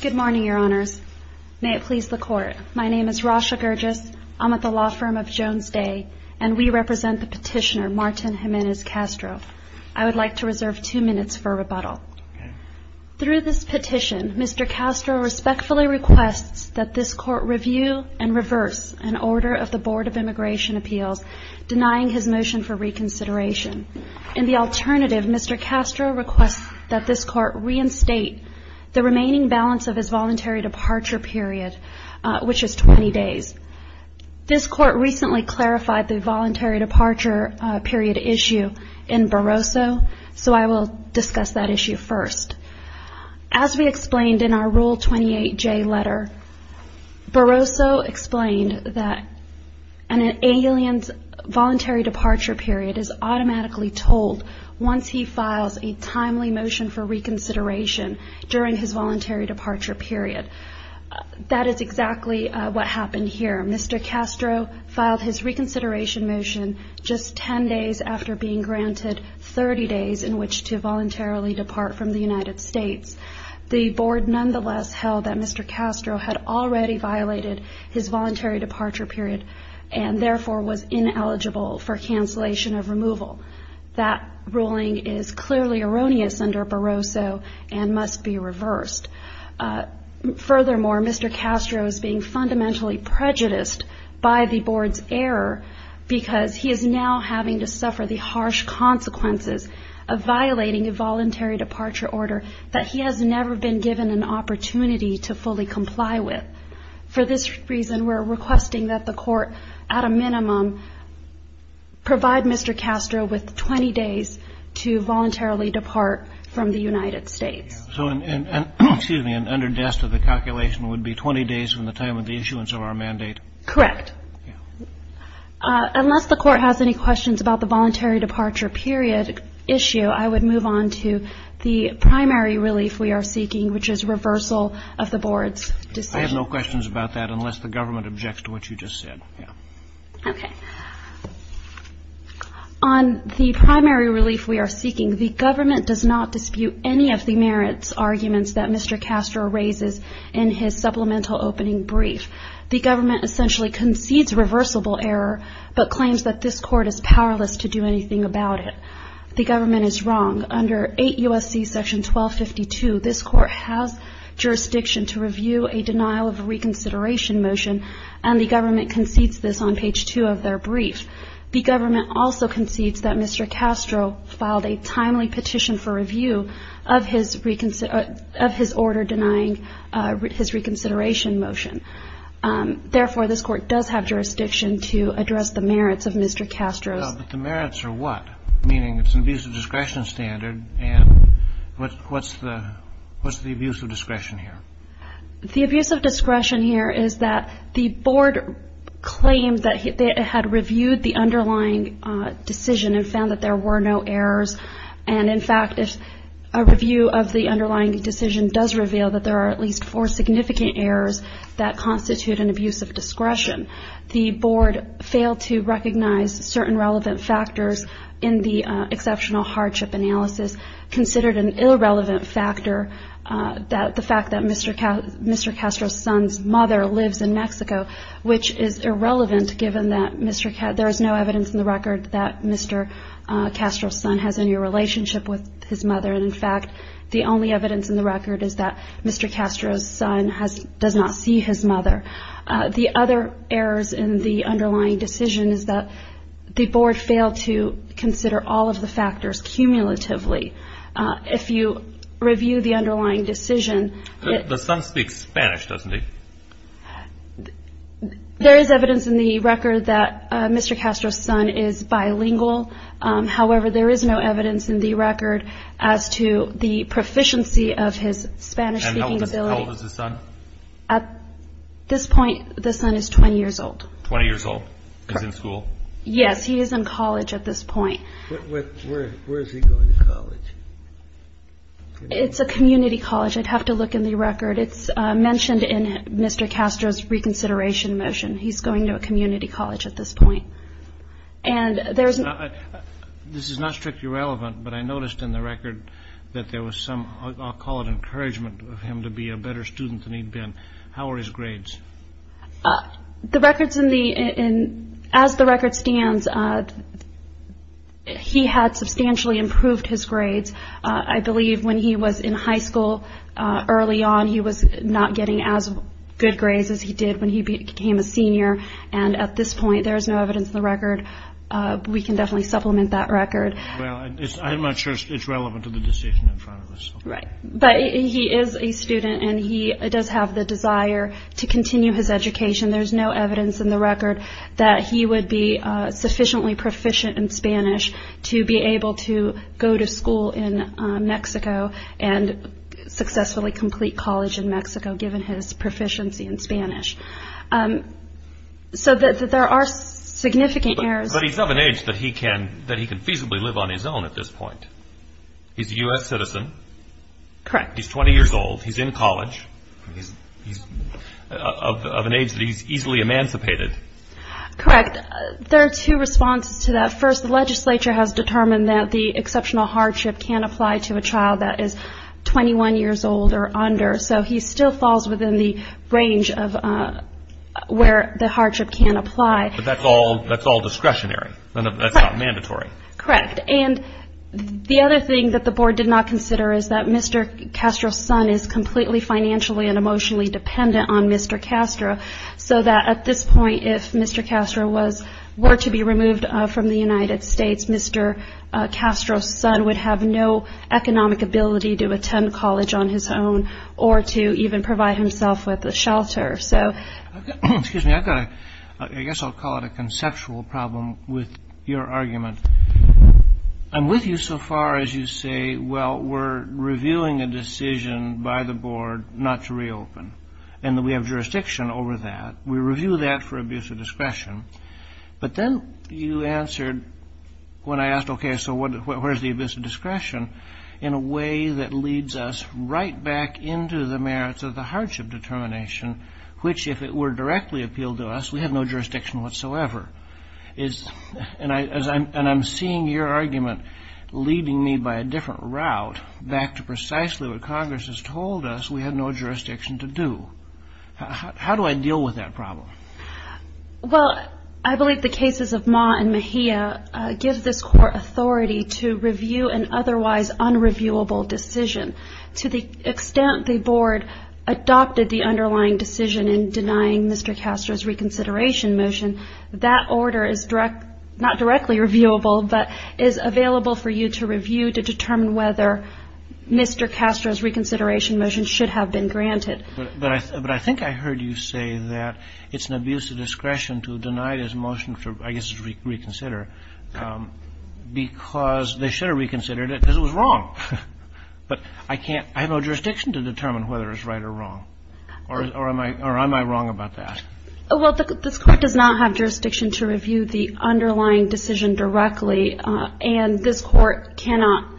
Good morning, your honors. May it please the court. My name is Rasha Gurgis. I'm at the law firm of Jones Day, and we represent the petitioner Martin Jimenez Castro. I would like to reserve two minutes for rebuttal. Through this petition, Mr. Castro respectfully requests that this court review and reverse an order of the Board of Immigration Appeals denying his motion for reconsideration. In the alternative, Mr. Castro requests that this court reinstate the remaining balance of his voluntary departure period, which is 20 days. This court recently clarified the voluntary departure period issue in Barroso, so I will discuss that issue first. As we explained in our Rule 28J letter, Barroso explained that an alien's voluntary departure period is automatically told once he files a timely motion for reconsideration during his voluntary departure period. That is exactly what happened here. Mr. Castro filed his reconsideration motion just 10 days after being granted 30 days in which to voluntarily depart from the United States. The Board nonetheless held that Mr. Castro had already violated his voluntary departure period and therefore was ineligible for cancellation of removal. That ruling is clearly erroneous under Barroso and must be reversed. Furthermore, Mr. Castro is being fundamentally prejudiced by the Board's error because he is now having to suffer the harsh consequences of violating a voluntary departure order that he has never been given an opportunity to fully comply with. For this reason, we are requesting that the Court at a minimum provide Mr. Castro with 20 days to voluntarily depart from the United States. So an underdust of the calculation would be 20 days from the time of the issuance of our mandate? Correct. Unless the Court has any questions about the voluntary departure period issue, I would move on to the primary relief we are seeking, which is reversal of the Board's decision. I have no questions about that unless the Government objects to what you just said. Okay. On the primary relief we are seeking, the Government does not dispute any of the merits arguments that Mr. Castro raises in his supplemental opening brief. The Government essentially concedes reversible error but claims that this Court is powerless to do anything about it. The Government is wrong. Under 8 U.S.C. § 1252, this Court has jurisdiction to review a denial of reconsideration motion and the Government concedes this on page 2 of their brief. The Government also concedes that Mr. Castro filed a timely petition for review of his order denying his reconsideration motion. Therefore, this Court does have jurisdiction to address the merits of Mr. Castro's The merits are what? Meaning it's an abuse of discretion standard and what's the abuse of discretion here? The abuse of discretion here is that the Board claims that it had reviewed the underlying decision and found that there were no errors. And, in fact, if a review of the underlying decision does reveal that there are at least four significant errors that constitute an abuse of discretion, the Board failed to recognize certain relevant factors in the exceptional hardship analysis, considered an irrelevant factor that the fact that Mr. Castro's son's mother lives in Mexico, which is irrelevant given that there is no evidence in the record that Mr. Castro's son has any relationship with his mother. And, in fact, the only evidence in the record is that Mr. Castro's son does not see his mother. The other errors in the underlying decision is that the Board failed to consider all of the factors cumulatively. If you review the underlying decision... The son speaks Spanish, doesn't he? There is evidence in the record that Mr. Castro's son is bilingual. However, there is no evidence in the record as to the proficiency of his Spanish-speaking ability. And how old is his son? At this point, the son is 20 years old. Twenty years old? Correct. He's in school? Yes, he is in college at this point. Where is he going to college? It's a community college. I'd have to look in the record. It's mentioned in Mr. Castro's reconsideration motion. He's going to a community college at this point. And there's... This is not strictly relevant, but I noticed in the record that there was some, I'll call it, How are his grades? The records in the... As the record stands, he had substantially improved his grades. I believe when he was in high school early on, he was not getting as good grades as he did when he became a senior. And at this point, there is no evidence in the record. We can definitely supplement that record. I'm not sure it's relevant to the decision in front of us. Right. But he is a student, and he does have the desire to continue his education. There's no evidence in the record that he would be sufficiently proficient in Spanish to be able to go to school in Mexico and successfully complete college in Mexico, given his proficiency in Spanish. So there are significant errors. But he's of an age that he can feasibly live on his own at this point. He's a U.S. citizen. Correct. He's 20 years old. He's in college. He's of an age that he's easily emancipated. Correct. There are two responses to that. First, the legislature has determined that the exceptional hardship can apply to a child that is 21 years old or under. So he still falls within the range of where the hardship can apply. But that's all discretionary. That's not mandatory. Correct. And the other thing that the board did not consider is that Mr. Castro's son is completely financially and emotionally dependent on Mr. Castro, so that at this point if Mr. Castro were to be removed from the United States, Mr. Castro's son would have no economic ability to attend college on his own or to even provide himself with a shelter. Excuse me. I guess I'll call it a conceptual problem with your argument. I'm with you so far as you say, well, we're reviewing a decision by the board not to reopen and that we have jurisdiction over that. We review that for abuse of discretion. But then you answered when I asked, okay, so where's the abuse of discretion, in a way that leads us right back into the merits of the hardship determination, which if it were directly appealed to us, we have no jurisdiction whatsoever. And I'm seeing your argument leading me by a different route, back to precisely what Congress has told us we have no jurisdiction to do. How do I deal with that problem? Well, I believe the cases of Ma and Mejia give this court authority to review an otherwise unreviewable decision. To the extent the board adopted the underlying decision in denying Mr. Castro's reconsideration motion, that order is not directly reviewable but is available for you to review to determine whether Mr. Castro's reconsideration motion should have been granted. But I think I heard you say that it's an abuse of discretion to deny his motion for, I guess, his reconsider because they should have reconsidered it because it was wrong. But I can't – I have no jurisdiction to determine whether it's right or wrong. Or am I wrong about that? Well, this Court does not have jurisdiction to review the underlying decision directly, and this Court cannot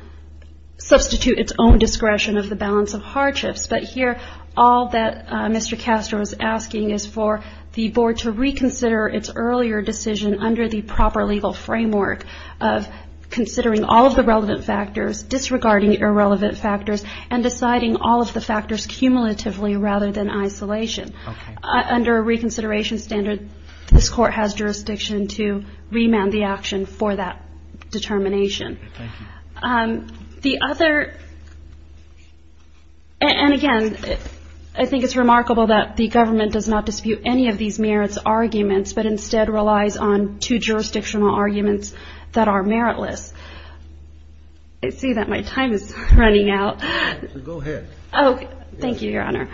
substitute its own discretion of the balance of hardships. But here, all that Mr. Castro is asking is for the board to reconsider its earlier decision under the proper legal framework of considering all of the relevant factors, disregarding irrelevant factors, and deciding all of the factors cumulatively rather than isolation. Okay. Under a reconsideration standard, this Court has jurisdiction to remand the action for that determination. Thank you. The other – and again, I think it's remarkable that the government does not dispute any of these merits arguments but instead relies on two jurisdictional arguments that are meritless. I see that my time is running out. Go ahead. Thank you, Your Honor.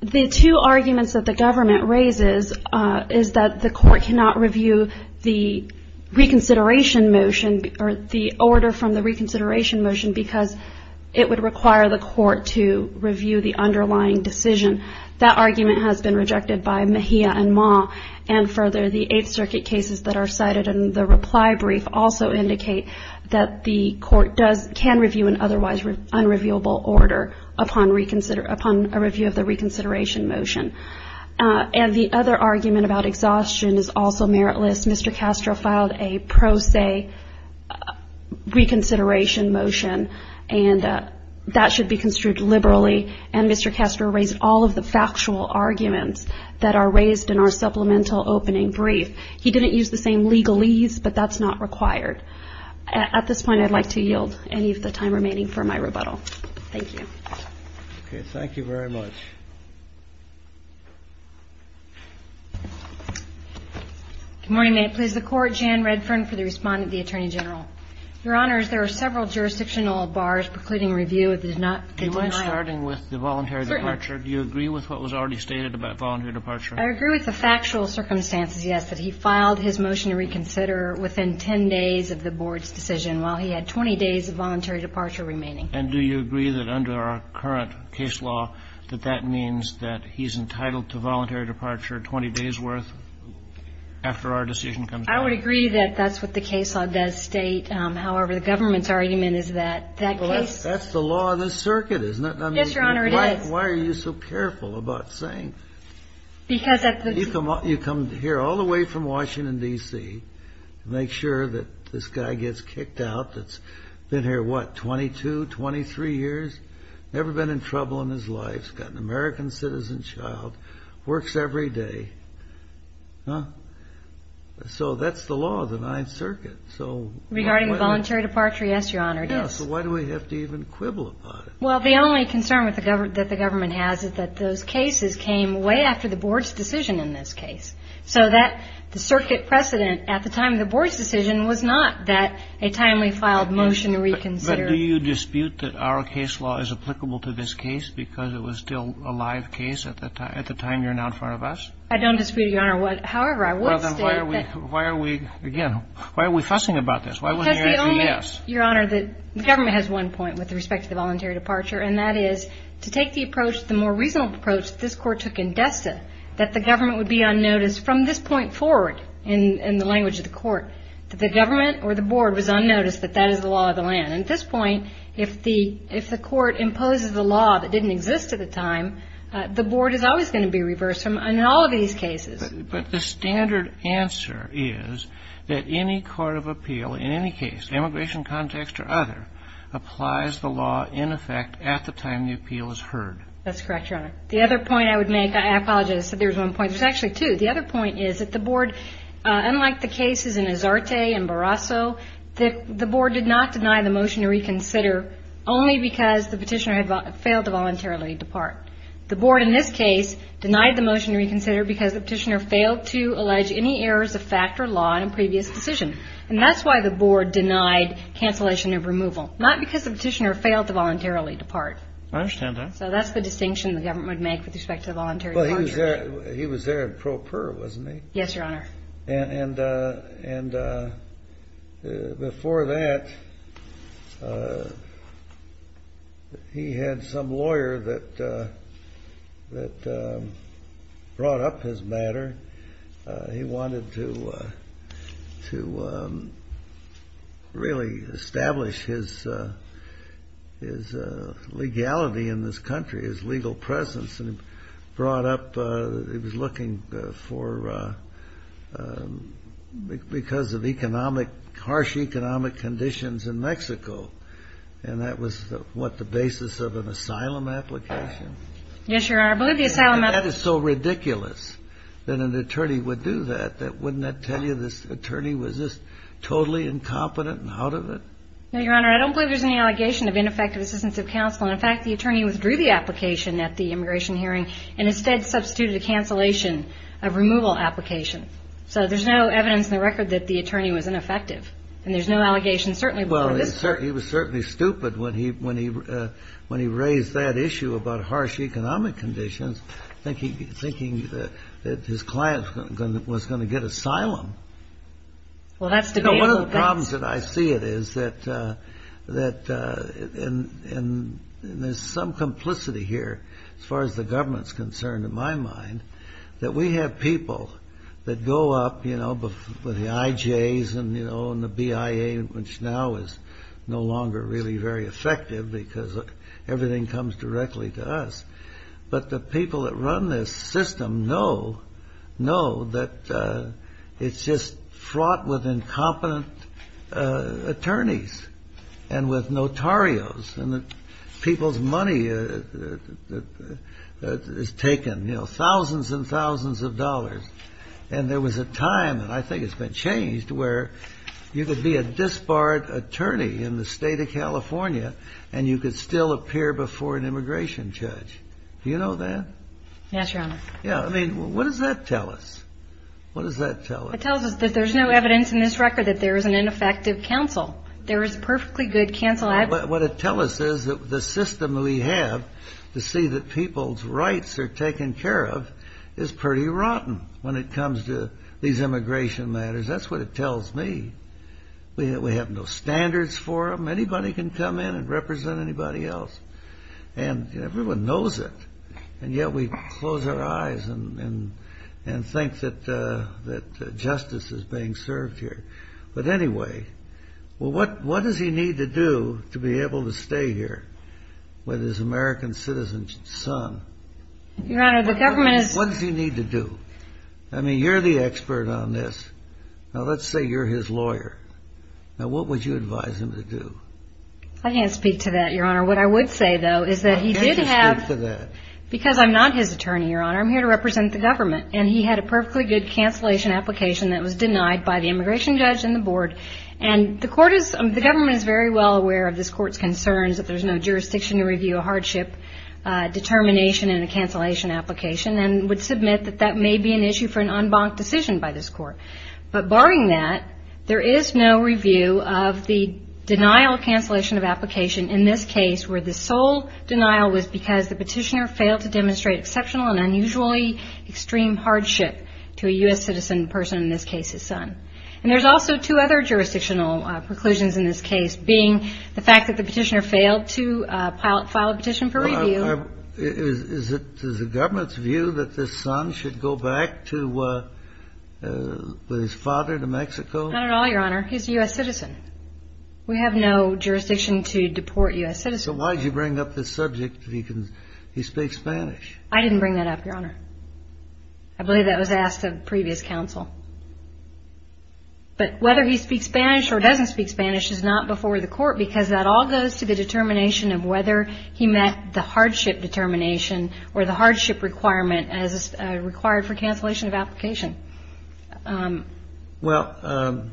The two arguments that the government raises is that the Court cannot review the reconsideration motion or the order from the reconsideration motion because it would require the Court to review the underlying decision. That argument has been rejected by Mejia and Ma. And further, the Eighth Circuit cases that are cited in the reply brief also indicate that the Court can review an otherwise unreviewable order upon a review of the reconsideration motion. And the other argument about exhaustion is also meritless. Mr. Castro filed a pro se reconsideration motion, and that should be construed liberally. And Mr. Castro raised all of the factual arguments that are raised in our supplemental opening brief. He didn't use the same legalese, but that's not required. At this point, I'd like to yield any of the time remaining for my rebuttal. Thank you. Okay. Thank you very much. Good morning. May it please the Court. Jan Redfern for the respondent, the Attorney General. Your Honors, there are several jurisdictional bars precluding review of the denying Do you mind starting with the voluntary departure? Certainly. Do you agree with what was already stated about voluntary departure? I agree with the factual circumstances, yes, that he filed his motion to reconsider within 10 days of the Board's decision while he had 20 days of voluntary departure remaining. And do you agree that under our current case law that that means that he's entitled to voluntary departure 20 days' worth after our decision comes out? I would agree that that's what the case law does state. However, the government's argument is that that case That's the law of the circuit, isn't it? Yes, Your Honor, it is. Why are you so careful about saying Because at the You come here all the way from Washington, D.C., to make sure that this guy gets kicked out that's been here, what, 22, 23 years? Never been in trouble in his life. He's got an American citizen child. Works every day. Huh? So that's the law of the Ninth Circuit. Regarding voluntary departure, yes, Your Honor, it is. So why do we have to even quibble about it? Well, the only concern that the government has is that those cases came way after the Board's decision in this case. So that the circuit precedent at the time of the Board's decision was not that a timely filed motion to reconsider. But do you dispute that our case law is applicable to this case because it was still a live case at the time you're now in front of us? I don't dispute it, Your Honor. However, I would state that Well, then why are we, again, why are we fussing about this? Why wasn't your answer yes? Because the only Your Honor, the government has one point with respect to the voluntary departure, and that is to take the approach, the more reasonable approach that this Court took that the government would be on notice from this point forward in the language of the Court that the government or the Board was on notice that that is the law of the land. And at this point, if the Court imposes a law that didn't exist at the time, the Board is always going to be reversed in all of these cases. But the standard answer is that any court of appeal, in any case, immigration context or other, applies the law in effect at the time the appeal is heard. That's correct, Your Honor. The other point I would make, I apologize. I said there was one point. There's actually two. The other point is that the Board, unlike the cases in Azarte and Barrasso, the Board did not deny the motion to reconsider only because the petitioner had failed to voluntarily depart. The Board, in this case, denied the motion to reconsider because the petitioner failed to allege any errors of fact or law in a previous decision. And that's why the Board denied cancellation of removal, not because the petitioner failed to voluntarily depart. I understand that. So that's the distinction the government would make with respect to voluntary departure. Well, he was there in pro per, wasn't he? Yes, Your Honor. And before that, he had some lawyer that brought up his matter. He wanted to really establish his legality in this country, his legal presence. And he brought up, he was looking for, because of economic, harsh economic conditions in Mexico. And that was, what, the basis of an asylum application? Yes, Your Honor. But that is so ridiculous that an attorney would do that. Wouldn't that tell you this attorney was just totally incompetent and out of it? No, Your Honor. I don't believe there's any allegation of ineffective assistance of counsel. And, in fact, the attorney withdrew the application at the immigration hearing and instead substituted a cancellation of removal application. So there's no evidence in the record that the attorney was ineffective. And there's no allegation certainly before this Court. He was certainly stupid when he raised that issue about harsh economic conditions, thinking that his client was going to get asylum. Well, that's debatable. One of the problems that I see it is that there's some complicity here, as far as the government's concerned, in my mind, that we have people that go up, you know, with the IJs and, you know, and the BIA, which now is no longer really very effective because everything comes directly to us. But the people that run this system know that it's just fraught with incompetent attorneys and with notarios and that people's money is taken, you know, thousands and thousands of dollars. And there was a time, and I think it's been changed, where you could be a disbarred attorney in the State of California and you could still appear before an immigration judge. Do you know that? Yes, Your Honor. Yeah. I mean, what does that tell us? What does that tell us? It tells us that there's no evidence in this record that there is an ineffective counsel. There is a perfectly good counsel. But what it tells us is that the system we have to see that people's rights are taken care of is pretty rotten when it comes to these immigration matters. That's what it tells me. We have no standards for them. Anybody can come in and represent anybody else. And everyone knows it. And yet we close our eyes and think that justice is being served here. But anyway, what does he need to do to be able to stay here with his American citizen son? Your Honor, the government is ---- What does he need to do? I mean, you're the expert on this. Now, let's say you're his lawyer. Now, what would you advise him to do? I can't speak to that, Your Honor. What I would say, though, is that he did have ---- Why can't you speak to that? Because I'm not his attorney, Your Honor. I'm here to represent the government. And he had a perfectly good cancellation application that was denied by the immigration judge and the board. And the court is ---- the government is very well aware of this court's concerns, that there's no jurisdiction to review a hardship determination in a cancellation application and would submit that that may be an issue for an en banc decision by this court. But barring that, there is no review of the denial cancellation of application in this case where the sole denial was because the petitioner failed to demonstrate exceptional and unusually extreme hardship to a U.S. citizen person, in this case his son. And there's also two other jurisdictional preclusions in this case, being the fact that the petitioner failed to file a petition for review. Is it the government's view that this son should go back to his father, to Mexico? Not at all, Your Honor. He's a U.S. citizen. We have no jurisdiction to deport U.S. citizens. So why did you bring up this subject that he speaks Spanish? I didn't bring that up, Your Honor. I believe that was asked of previous counsel. But whether he speaks Spanish or doesn't speak Spanish is not before the court because that all goes to the determination of whether he met the hardship determination or the hardship requirement as required for cancellation of application. Well,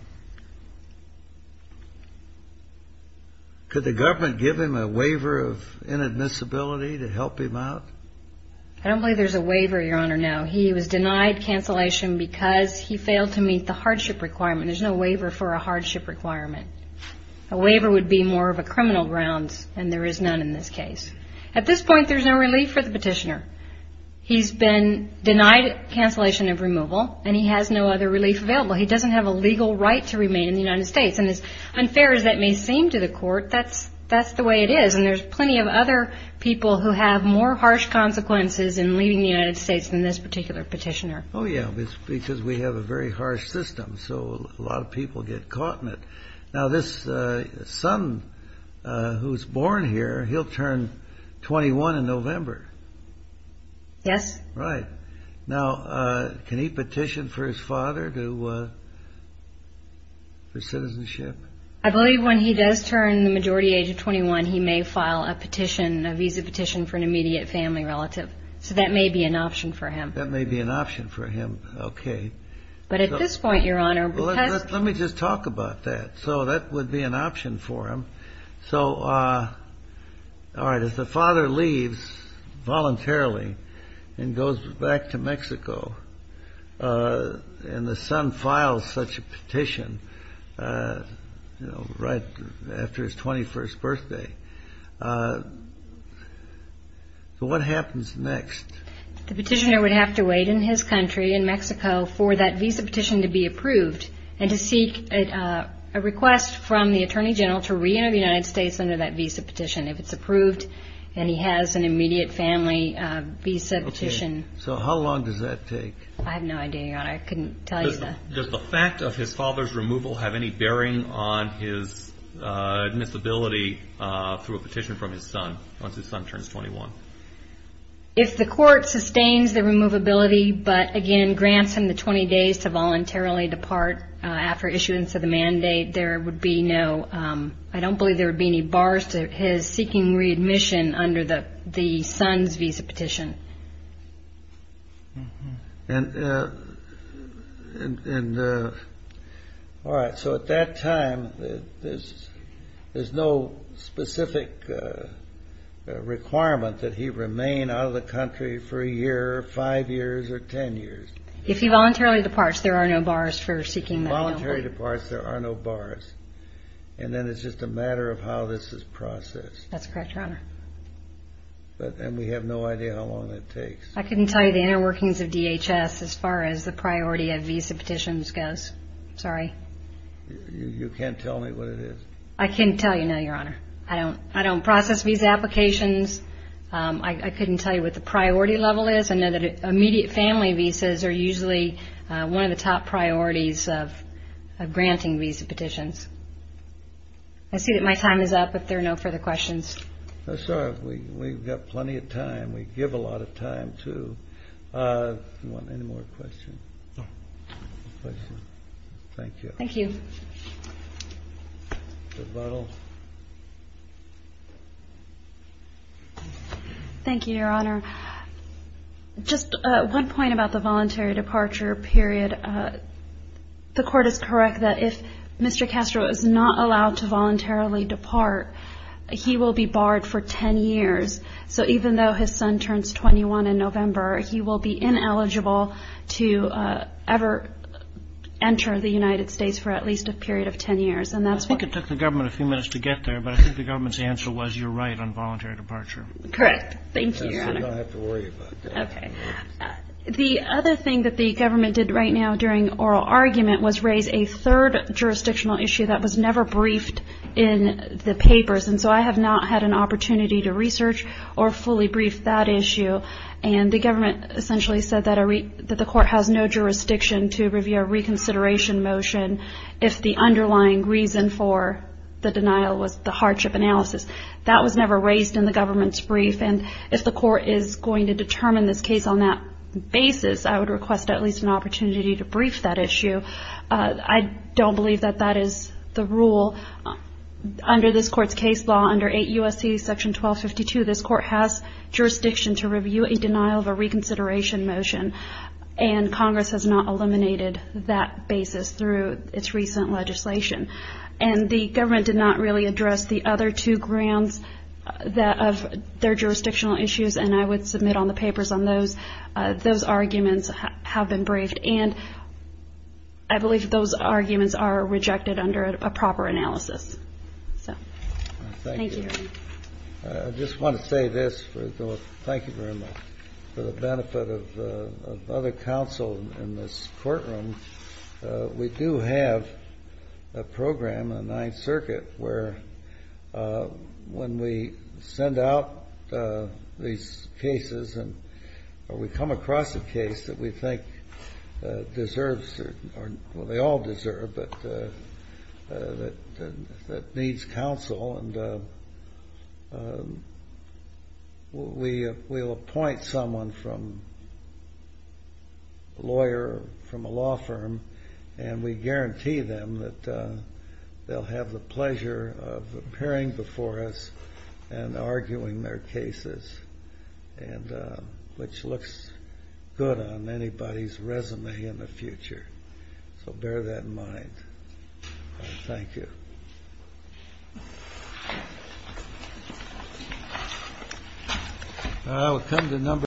could the government give him a waiver of inadmissibility to help him out? I don't believe there's a waiver, Your Honor, no. He was denied cancellation because he failed to meet the hardship requirement. There's no waiver for a hardship requirement. A waiver would be more of a criminal grounds, and there is none in this case. At this point, there's no relief for the petitioner. He's been denied cancellation of removal, and he has no other relief available. He doesn't have a legal right to remain in the United States. And as unfair as that may seem to the court, that's the way it is, and there's plenty of other people who have more harsh consequences in leaving the United States than this particular petitioner. Oh, yeah, because we have a very harsh system, so a lot of people get caught in it. Now, this son who was born here, he'll turn 21 in November. Yes. Right. Now, can he petition for his father for citizenship? I believe when he does turn the majority age of 21, he may file a petition, a visa petition for an immediate family relative. So that may be an option for him. That may be an option for him. Okay. But at this point, Your Honor, because Let me just talk about that. So that would be an option for him. So, all right, if the father leaves voluntarily and goes back to Mexico and the son files such a petition right after his 21st birthday, what happens next? The petitioner would have to wait in his country, in Mexico, for that visa petition to be approved and to seek a request from the Attorney General to re-enter the United States under that visa petition if it's approved and he has an immediate family visa petition. Okay. So how long does that take? I have no idea, Your Honor. I couldn't tell you that. Does the fact of his father's removal have any bearing on his admissibility through a petition from his son once his son turns 21? If the court sustains the removability but, again, grants him the 20 days to voluntarily depart after issuance of the mandate, there would be no ‑‑ I don't believe there would be any bars to his seeking readmission under the son's visa petition. All right. So at that time, there's no specific requirement that he remain out of the country for a year, five years, or ten years. If he voluntarily departs, there are no bars for seeking that enrollment. If he voluntarily departs, there are no bars. And then it's just a matter of how this is processed. That's correct, Your Honor. And we have no idea how long that would take? I couldn't tell you the inner workings of DHS as far as the priority of visa petitions goes. Sorry. You can't tell me what it is? I can tell you now, Your Honor. I don't process visa applications. I couldn't tell you what the priority level is. I know that immediate family visas are usually one of the top priorities of granting visa petitions. I see that my time is up if there are no further questions. No, sir. We've got plenty of time. We give a lot of time, too. Do you want any more questions? No. No questions. Thank you. Thank you. Ms. Buttle. Thank you, Your Honor. Just one point about the voluntary departure period. The Court is correct that if Mr. Castro is not allowed to voluntarily depart, he will be barred for ten years. So even though his son turns 21 in November, he will be ineligible to ever enter the United States for at least a period of ten years. I think it took the government a few minutes to get there, but I think the government's answer was you're right on voluntary departure. Correct. Thank you, Your Honor. The other thing that the government did right now during oral argument was raise a third jurisdictional issue that was never briefed in the papers. And so I have not had an opportunity to research or fully brief that issue. And the government essentially said that the Court has no jurisdiction to review a reconsideration motion if the underlying reason for the denial was the hardship analysis. That was never raised in the government's brief. And if the Court is going to determine this case on that basis, I would request at least an opportunity to brief that issue. I don't believe that that is the rule. Under this Court's case law under 8 U.S.C. section 1252, this Court has jurisdiction to review a denial of a reconsideration motion, and Congress has not eliminated that basis through its recent legislation. And the government did not really address the other two grounds of their jurisdictional issues, and I would submit on the papers on those. Those arguments have been briefed, and I believe that those arguments are rejected under a proper analysis. Thank you. I just want to say this. Thank you very much. For the benefit of other counsel in this courtroom, we do have a program in the Ninth Circuit where when we send out these cases and we come across a case that we think deserves certain, well, they all deserve, but that needs counsel, and we'll appoint someone from, a lawyer from a law firm, and we guarantee them that they'll have the pleasure of appearing before us and arguing their cases, which looks good on anybody's resume in the future, so bear that in mind. Thank you.